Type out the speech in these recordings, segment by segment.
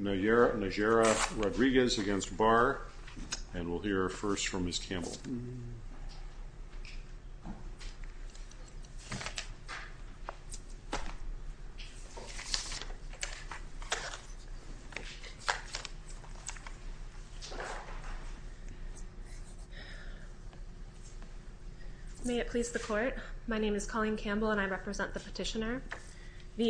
Najera-Rodriguez against Barr, and we'll hear first from Ms. Campbell. May it please the court, my name is Colleen Campbell and I represent the Supreme Court's framework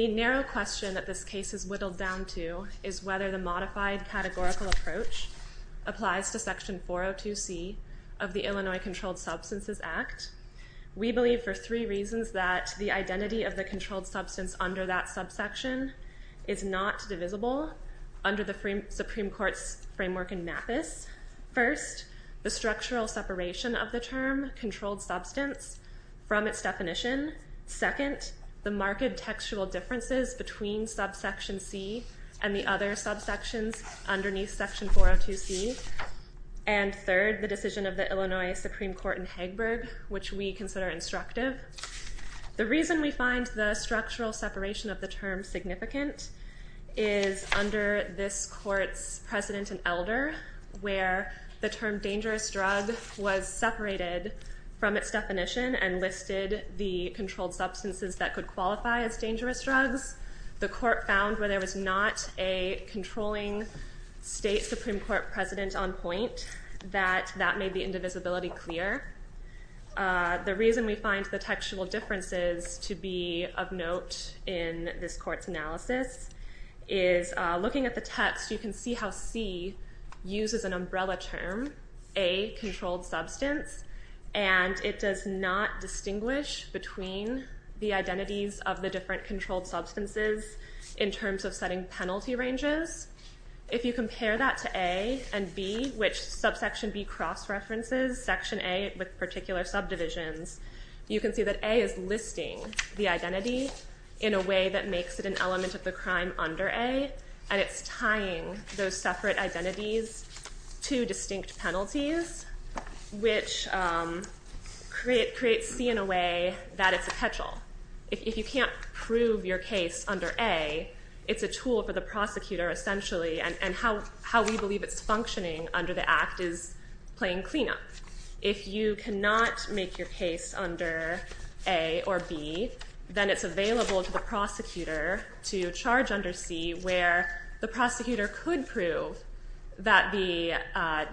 in MAPIS. First, the structural separation of the term controlled substance from its definition. Second, the marked textual differences and the other subsections underneath section 402C. And third, the decision of the Illinois Supreme Court in Hegberg, which we consider instructive. The reason we find the structural separation of the term significant is under this court's precedent and elder, where the term dangerous drug was separated from its definition and listed the controlled substances that could qualify as not a controlling state Supreme Court precedent on point, that that made the indivisibility clear. The reason we find the textual differences to be of note in this court's analysis is looking at the text you can see how C uses an umbrella term, a controlled substance, and it does not distinguish between the identities of the different controlled substances in terms of setting penalty ranges. If you compare that to A and B, which subsection B cross-references section A with particular subdivisions, you can see that A is listing the identity in a way that makes it an element of the crime under A, and it's tying those separate identities to distinct penalties, which creates C in a way that it's a tool for the prosecutor essentially, and how we believe it's functioning under the act is playing cleanup. If you cannot make your case under A or B, then it's available to the prosecutor to charge under C, where the prosecutor could prove that the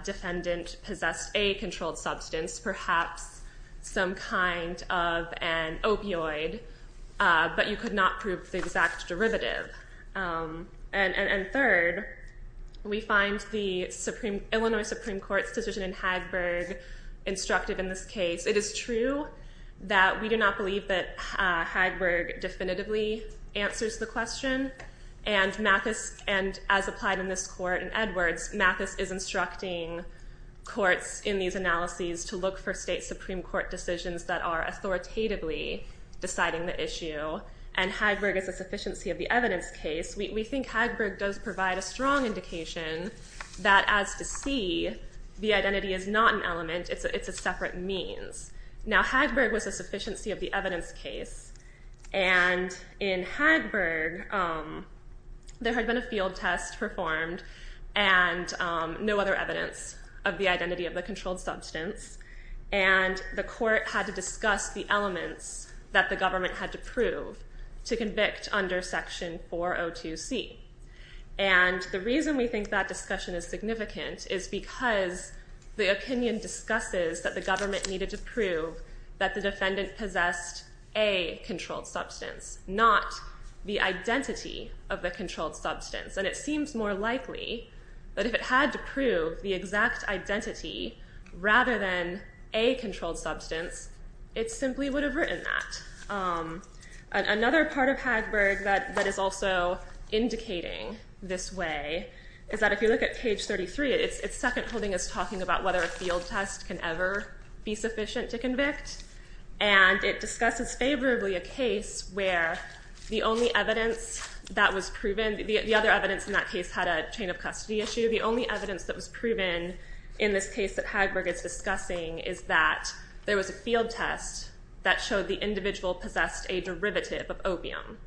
defendant possessed a controlled substance, perhaps some kind of an opioid, but you could not prove the exact derivative. And third, we find the Illinois Supreme Court's decision in Hagberg instructive in this case. It is true that we do not believe that Hagberg definitively answers the question, and Mathis, and as applied in this court in Edwards, Mathis is instructing courts in these analyses to look for state Supreme Court decisions that are authoritatively deciding the issue, and Hagberg is a sufficiency of the evidence case. We think Hagberg does provide a strong indication that as to C, the identity is not an element, it's a separate means. Now Hagberg was a sufficiency of the evidence case, and in Hagberg, there had been a field test performed and no other evidence of the identity of the controlled substance, and the court had to discuss the elements that the government had to prove to convict under section 402C. And the reason we think that discussion is significant is because the opinion discusses that the government needed to prove that the defendant possessed a controlled substance, not the identity of a controlled substance, and it seems more likely that if it had to prove the exact identity rather than a controlled substance, it simply would have written that. Another part of Hagberg that is also indicating this way is that if you look at page 33, its second holding is talking about whether a field test can ever be sufficient to convict, and it discusses favorably a case where the only evidence that was proven, the other evidence in that case had a chain of custody issue, the only evidence that was proven in this case that Hagberg is discussing is that there was a field test that showed the individual possessed a derivative of opium.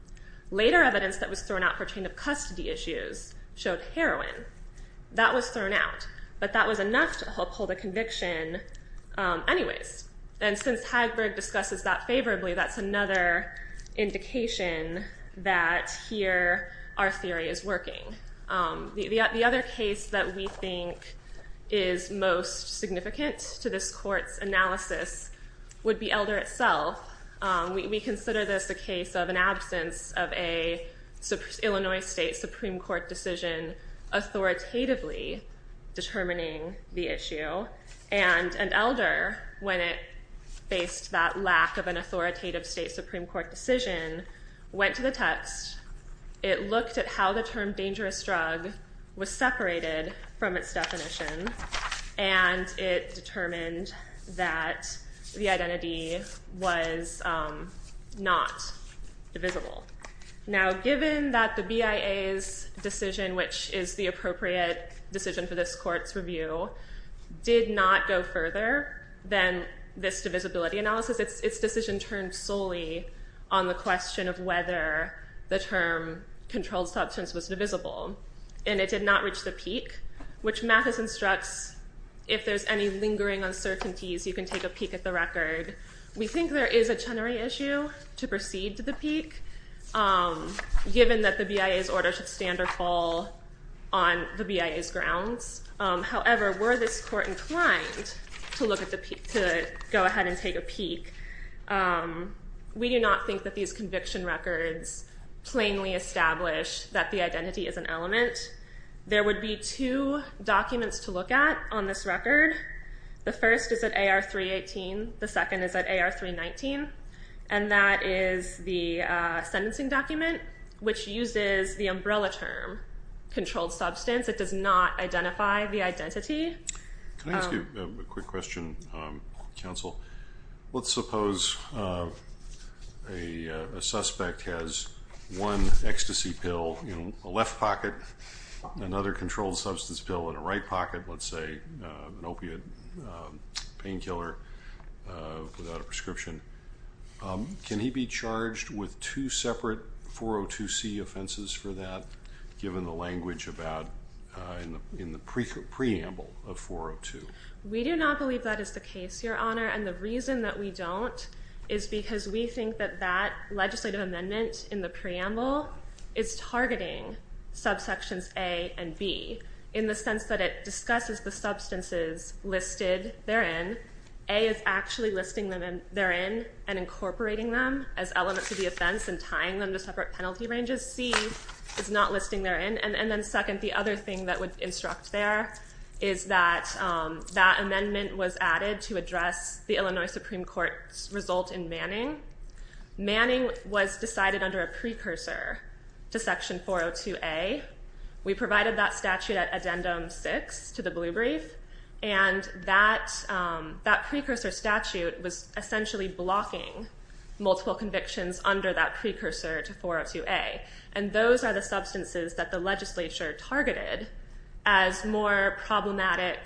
Later evidence that was thrown out for chain of custody issues showed heroin. That was thrown out, but that was enough to help hold a conviction anyways, and since Hagberg discusses that favorably, that's another indication that here our theory is working. The other case that we think is most significant to this court's analysis would be Elder itself. We consider this a case of an absence of a Illinois state Supreme Court decision authoritatively determining the issue, and Elder, when it faced that lack of an Supreme Court decision, went to the text, it looked at how the term dangerous drug was separated from its definition, and it determined that the identity was not divisible. Now given that the BIA's decision, which is the appropriate decision for this court's review, did not go further than this divisibility analysis, its decision turned solely on the question of whether the term controlled substance was divisible, and it did not reach the peak, which Mathis instructs if there's any lingering uncertainties, you can take a peek at the record. We think there is a Chenery issue to proceed to the peak, given that the BIA's order should stand or fall on the BIA's grounds. However, were this court inclined to go ahead and take a peek, we do not think that these conviction records plainly establish that the identity is an element. There would be two documents to look at on this record. The first is at AR 318, the second is at AR 319, and that is the sentencing document, which uses the Let me ask you a quick question, counsel. Let's suppose a suspect has one ecstasy pill in a left pocket, another controlled substance pill in a right pocket, let's say an opiate painkiller without a prescription. Can he be charged with two separate 402c offenses for that, given the language about in the We do not believe that is the case, Your Honor, and the reason that we don't is because we think that that legislative amendment in the preamble is targeting subsections A and B, in the sense that it discusses the substances listed therein. A is actually listing them therein and incorporating them as elements of the offense and tying them to separate penalty ranges. C is not listing therein. And then second, the other thing that would instruct there is that that amendment was added to address the Illinois Supreme Court's result in Manning. Manning was decided under a precursor to Section 402a. We provided that statute at Addendum 6 to the Blue Brief, and that precursor statute was essentially blocking multiple convictions under that precursor to 402a, and those are the substances that the legislature targeted as more problematic,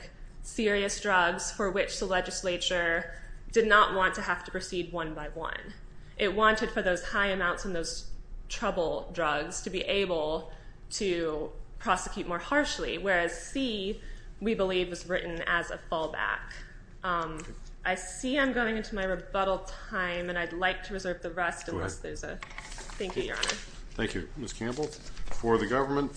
serious drugs for which the legislature did not want to have to proceed one by one. It wanted for those high amounts and those trouble drugs to be able to prosecute more harshly, whereas C, we believe, is written as a fallback. I see I'm going into my rebuttal time, and I'd like to reserve the rest. Thank you, Your Honor. Thank you, Ms. Campbell. For the record,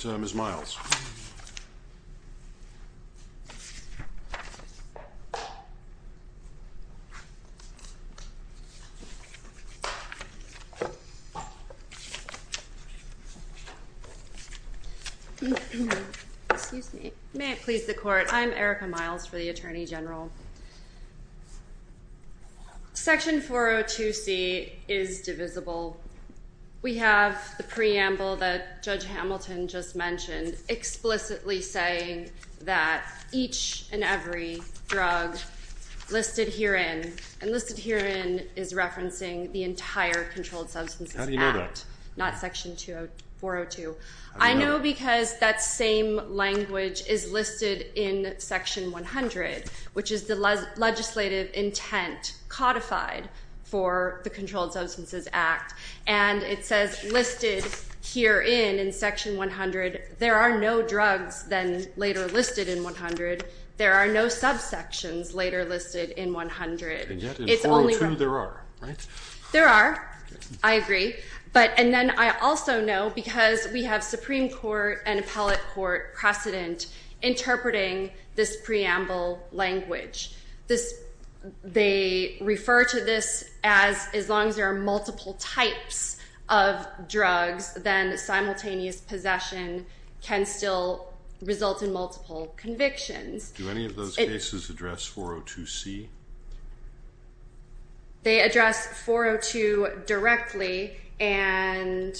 may it please the Court, I'm Erica Miles for the Attorney General. Section 402c is divisible. We have the preamble that Judge Hamilton just explicitly saying that each and every drug listed herein, and listed herein is referencing the entire Controlled Substances Act, not Section 402. I know because that same language is listed in Section 100, which is the legislative intent codified for the Controlled Substances Act, and it says listed herein in Section 100, there are no drugs then later listed in 100, there are no subsections later listed in 100. And yet in 402 there are, right? There are, I agree, but and then I also know because we have Supreme Court and Appellate Court precedent interpreting this preamble language. This, they refer to this as as long as there are multiple types of drugs, then simultaneous possession can still result in multiple convictions. Do any of those cases address 402c? They address 402 directly, and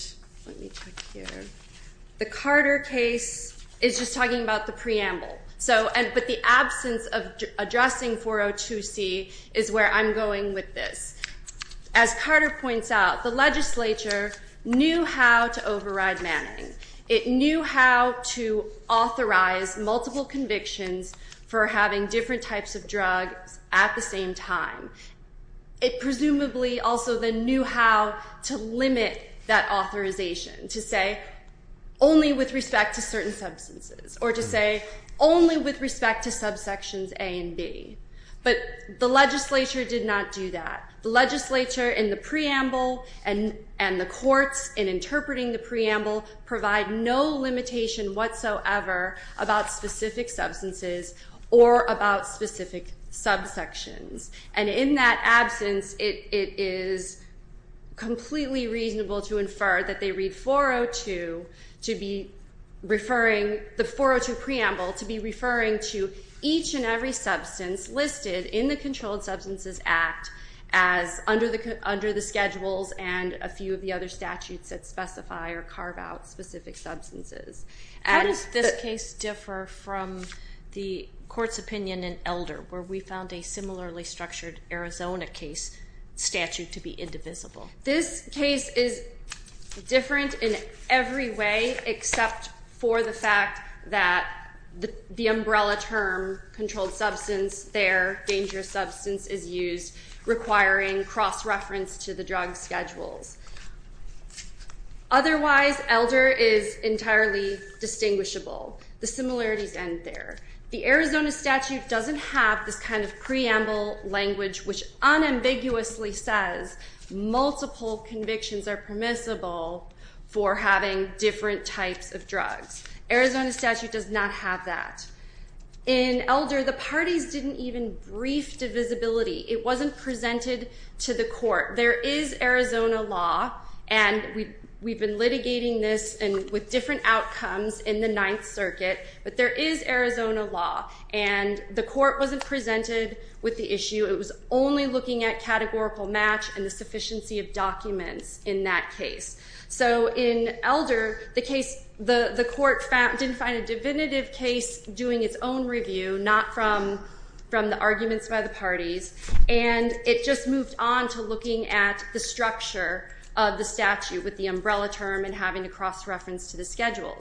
the Carter case is just talking about the preamble, so and but the absence of addressing 402c is where I'm going with this. As Carter points out, the legislature knew how to override Manning. It knew how to authorize multiple convictions for having different types of drugs at the same time. It presumably also then knew how to limit that authorization, to say only with respect to certain substances, or to say only with respect to subsections A and B, but the legislature did not do that. The legislature in the preamble and and the courts in interpreting the preamble provide no limitation whatsoever about specific substances or about specific subsections, and in that absence it is completely reasonable to infer that they read 402 to be referring, the 402 preamble, to be referring to each and every substance listed in the Controlled Substances Act as under the schedules and a few of the other statutes that specify or carve out specific substances. How does this case differ from the court's opinion in Elder, where we found a similarly structured Arizona case statute to be indivisible? This case is different in every way except for the fact that the umbrella term controlled substance there, dangerous substance, is used requiring cross-reference to the drug schedules. Otherwise, Elder is entirely distinguishable. The similarities end there. The Arizona statute doesn't have this kind of preamble language which unambiguously says multiple convictions are permissible for having different types of drugs. Arizona statute does not have that. In Elder, the parties didn't even brief divisibility. It wasn't presented to the court. There is Arizona law, and we've been litigating this with different outcomes in the Ninth Amendment, Arizona law, and the court wasn't presented with the issue. It was only looking at categorical match and the sufficiency of documents in that case. So in Elder, the court didn't find a divinitive case doing its own review, not from the arguments by the parties, and it just moved on to looking at the structure of the statute with the umbrella term and having to look at state law interpreting the drug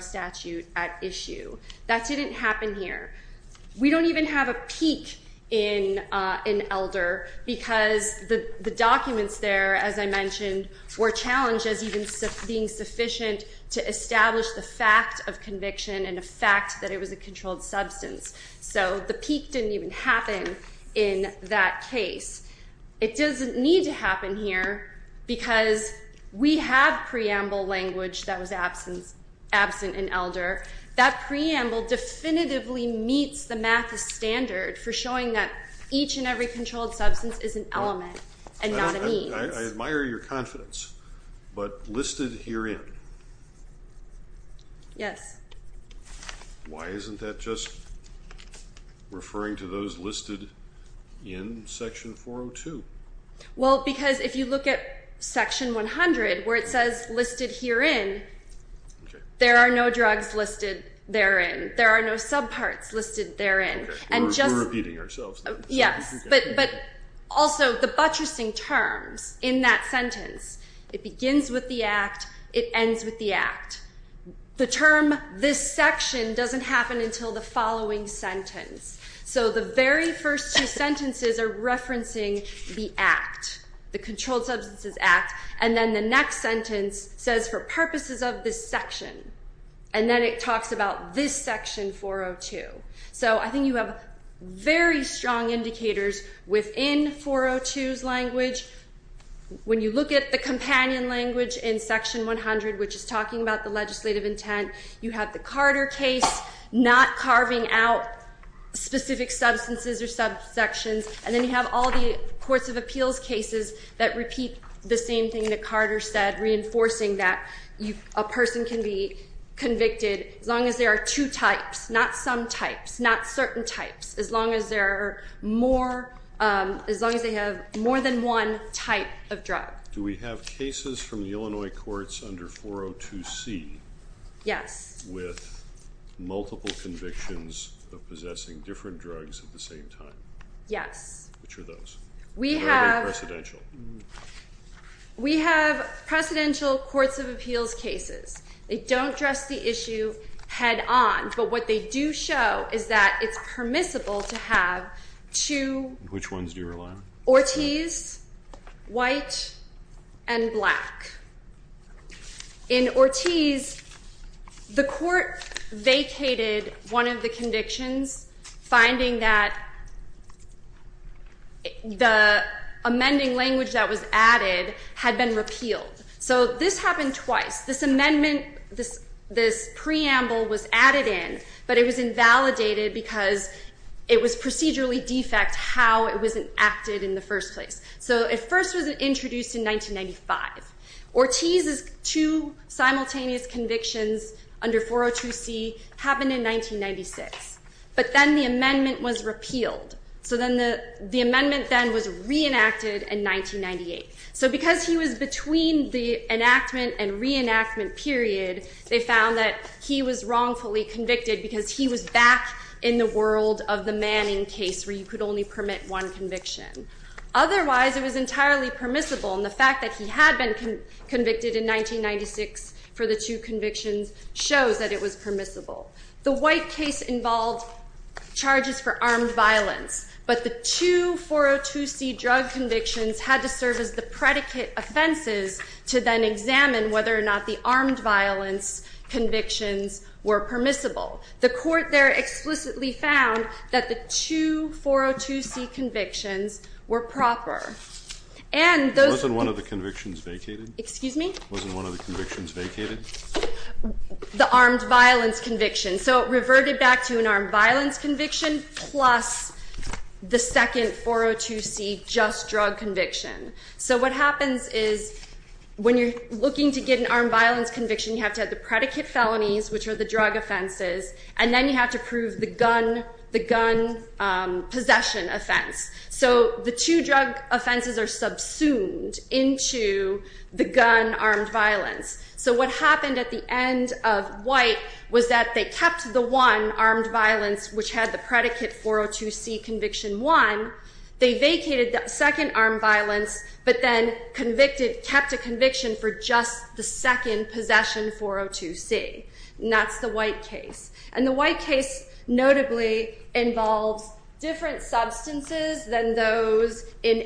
statute at issue. That didn't happen here. We don't even have a peak in Elder because the documents there, as I mentioned, were challenged as even being sufficient to establish the fact of conviction and a fact that it's not conclusive, and they proceed to looking at state law interpreting the drug statute at issue. So the peak didn't even happen in that case. It doesn't need to happen here because we have preamble language that was absent in Elder. That preamble definitively meets the math as standard for showing that each and every controlled substance is an element and not a means. I admire your confidence, but listed herein? Yes. Why isn't that just referring to those listed in Section 402? Well, because if you look at Section 100, where it says listed herein, there are no drugs listed therein. There are no subparts listed therein. We're repeating ourselves. Yes, but also the buttressing terms in that sentence, it begins with the act, it ends with the act. The term this section doesn't happen until the following sentence. So the very first two sentences are referencing the act, the Controlled Substances Act, and then the next sentence says for purposes of this section, and then it talks about this Section 402. So I think you have very strong indicators within 402's language. When you look at the companion language in Section 100, which is talking about the legislative intent, you have the Carter case not carving out specific substances or subsections, and then you have all the courts of appeals cases that repeat the same thing that Carter said, reinforcing that a person can be convicted as long as there are two types, not some types, not certain types, as long as they have more than one type of drug. Do we have cases from the Illinois courts under 402C? Yes. With multiple convictions of possessing different drugs at the same time? Yes. Which are those? We have precedential courts of appeals cases. They don't address the issue head on, but what they do show is that it's permissible to have two... Which ones do you rely on? Ortiz, white, and black. In Ortiz, the court vacated one of the convictions, finding that the amending language that was added had been repealed. So this happened twice. This amendment, this preamble was added in, but it was invalidated because it was procedurally defect how it was enacted in the first place. So it first was introduced in 1995. Ortiz's two simultaneous convictions under 402C happened in 1996, but then the amendment was repealed. So the amendment then was reenacted in 1998. So because he was between the enactment and reenactment period, they found that he was wrongfully convicted because he was back in the world of the Manning case where you could only permit one conviction. Otherwise, it was entirely permissible, and the fact that he had been convicted in 1996 for the two convictions shows that it was permissible. The white case involved charges for armed violence, but the two 402C drug convictions had to serve as the predicate offenses to then examine whether or not the armed violence convictions were permissible. The court there explicitly found that the two 402C convictions were proper, and those... Wasn't one of the convictions vacated? Excuse me? Wasn't one of the convictions vacated? The armed violence conviction. So it reverted back to an armed violence conviction plus the second 402C just drug conviction. So what happens is when you're looking to get an armed violence conviction, you have to have the predicate felonies, which are the drug offenses, and then you have to prove the gun possession offense. So the two drug offenses are subsumed into the gun armed violence. So what happened at the end of white was that they kept the one armed violence, which had the predicate 402C conviction one. They vacated the second armed violence, but then kept a conviction for just the second possession 402C. And that's the white case. And the white case notably involves different substances than those in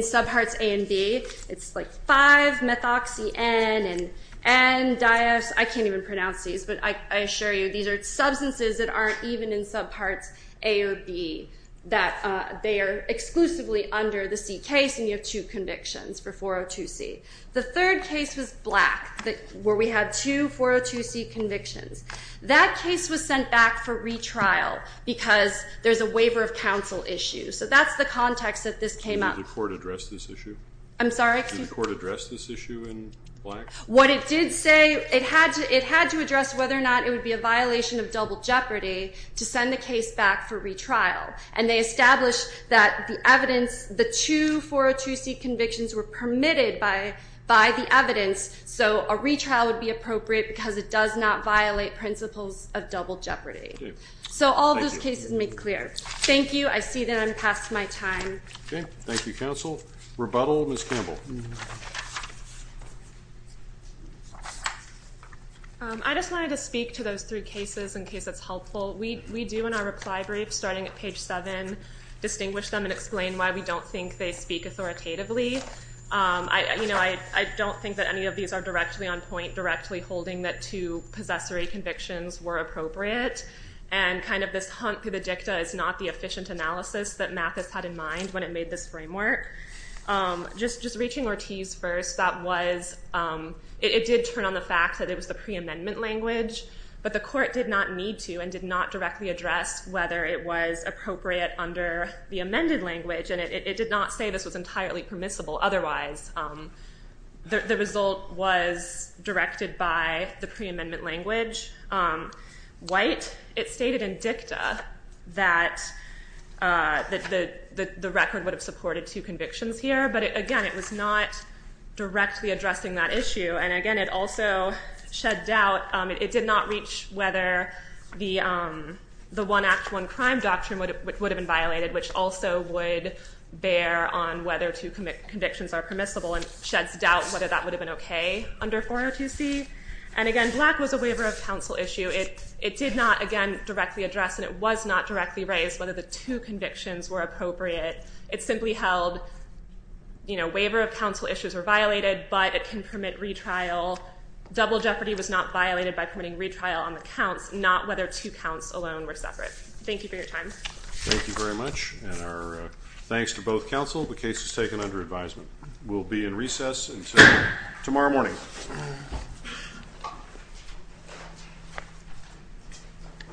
subparts A and B. It's like 5-methoxy-N and N-dios. I can't even pronounce these, but I assure you these are substances that aren't even in subparts A or B, that they are exclusively under the C case, and you have two convictions for 402C. The third case was black, where we had two 402C convictions. That case was sent back for retrial because there's a waiver of counsel issue. So that's the context that this came up. Can the court address this issue? I'm sorry? Can the court address this issue in black? What it did say, it had to address whether or not it would be a violation of double jeopardy to send the case back for retrial. And they established that the evidence, the two 402C convictions were permitted by the evidence. So a retrial would be appropriate because it does not violate principles of double jeopardy. Okay. So all those cases made clear. Thank you. I see that I'm past my time. Okay. Thank you, counsel. Rebuttal, Ms. Campbell. I just wanted to speak to those three cases in case that's helpful. We do in our reply brief, starting at page seven, distinguish them and explain why we don't think they speak authoritatively. I don't think that any of these are directly on point, directly holding that two possessory convictions were appropriate. And kind of this hunt through the dicta is not the efficient analysis that Mathis had in mind when it made this framework. Just reaching Ortiz first, that was, it did turn on the fact that it was the pre-amendment language. But the court did not need to and did not directly address whether it was appropriate under the amended language. And it did not say this was entirely permissible. Otherwise, the result was directed by the pre-amendment language. White, it stated in dicta that the record would have supported two convictions here. But, again, it was not directly addressing that issue. And, again, it also shed doubt. It did not reach whether the one act, one crime doctrine would have been violated, which also would bear on whether two convictions are permissible and sheds doubt whether that would have been okay under 402C. And, again, black was a waiver of counsel issue. It did not, again, directly address and it was not directly raised whether the two convictions were appropriate. It simply held, you know, waiver of counsel issues were violated, but it can permit retrial. Double jeopardy was not violated by permitting retrial on the counts, not whether two counts alone were separate. Thank you for your time. Thank you very much. And our thanks to both counsel. The case is taken under advisement. We'll be in recess until tomorrow morning.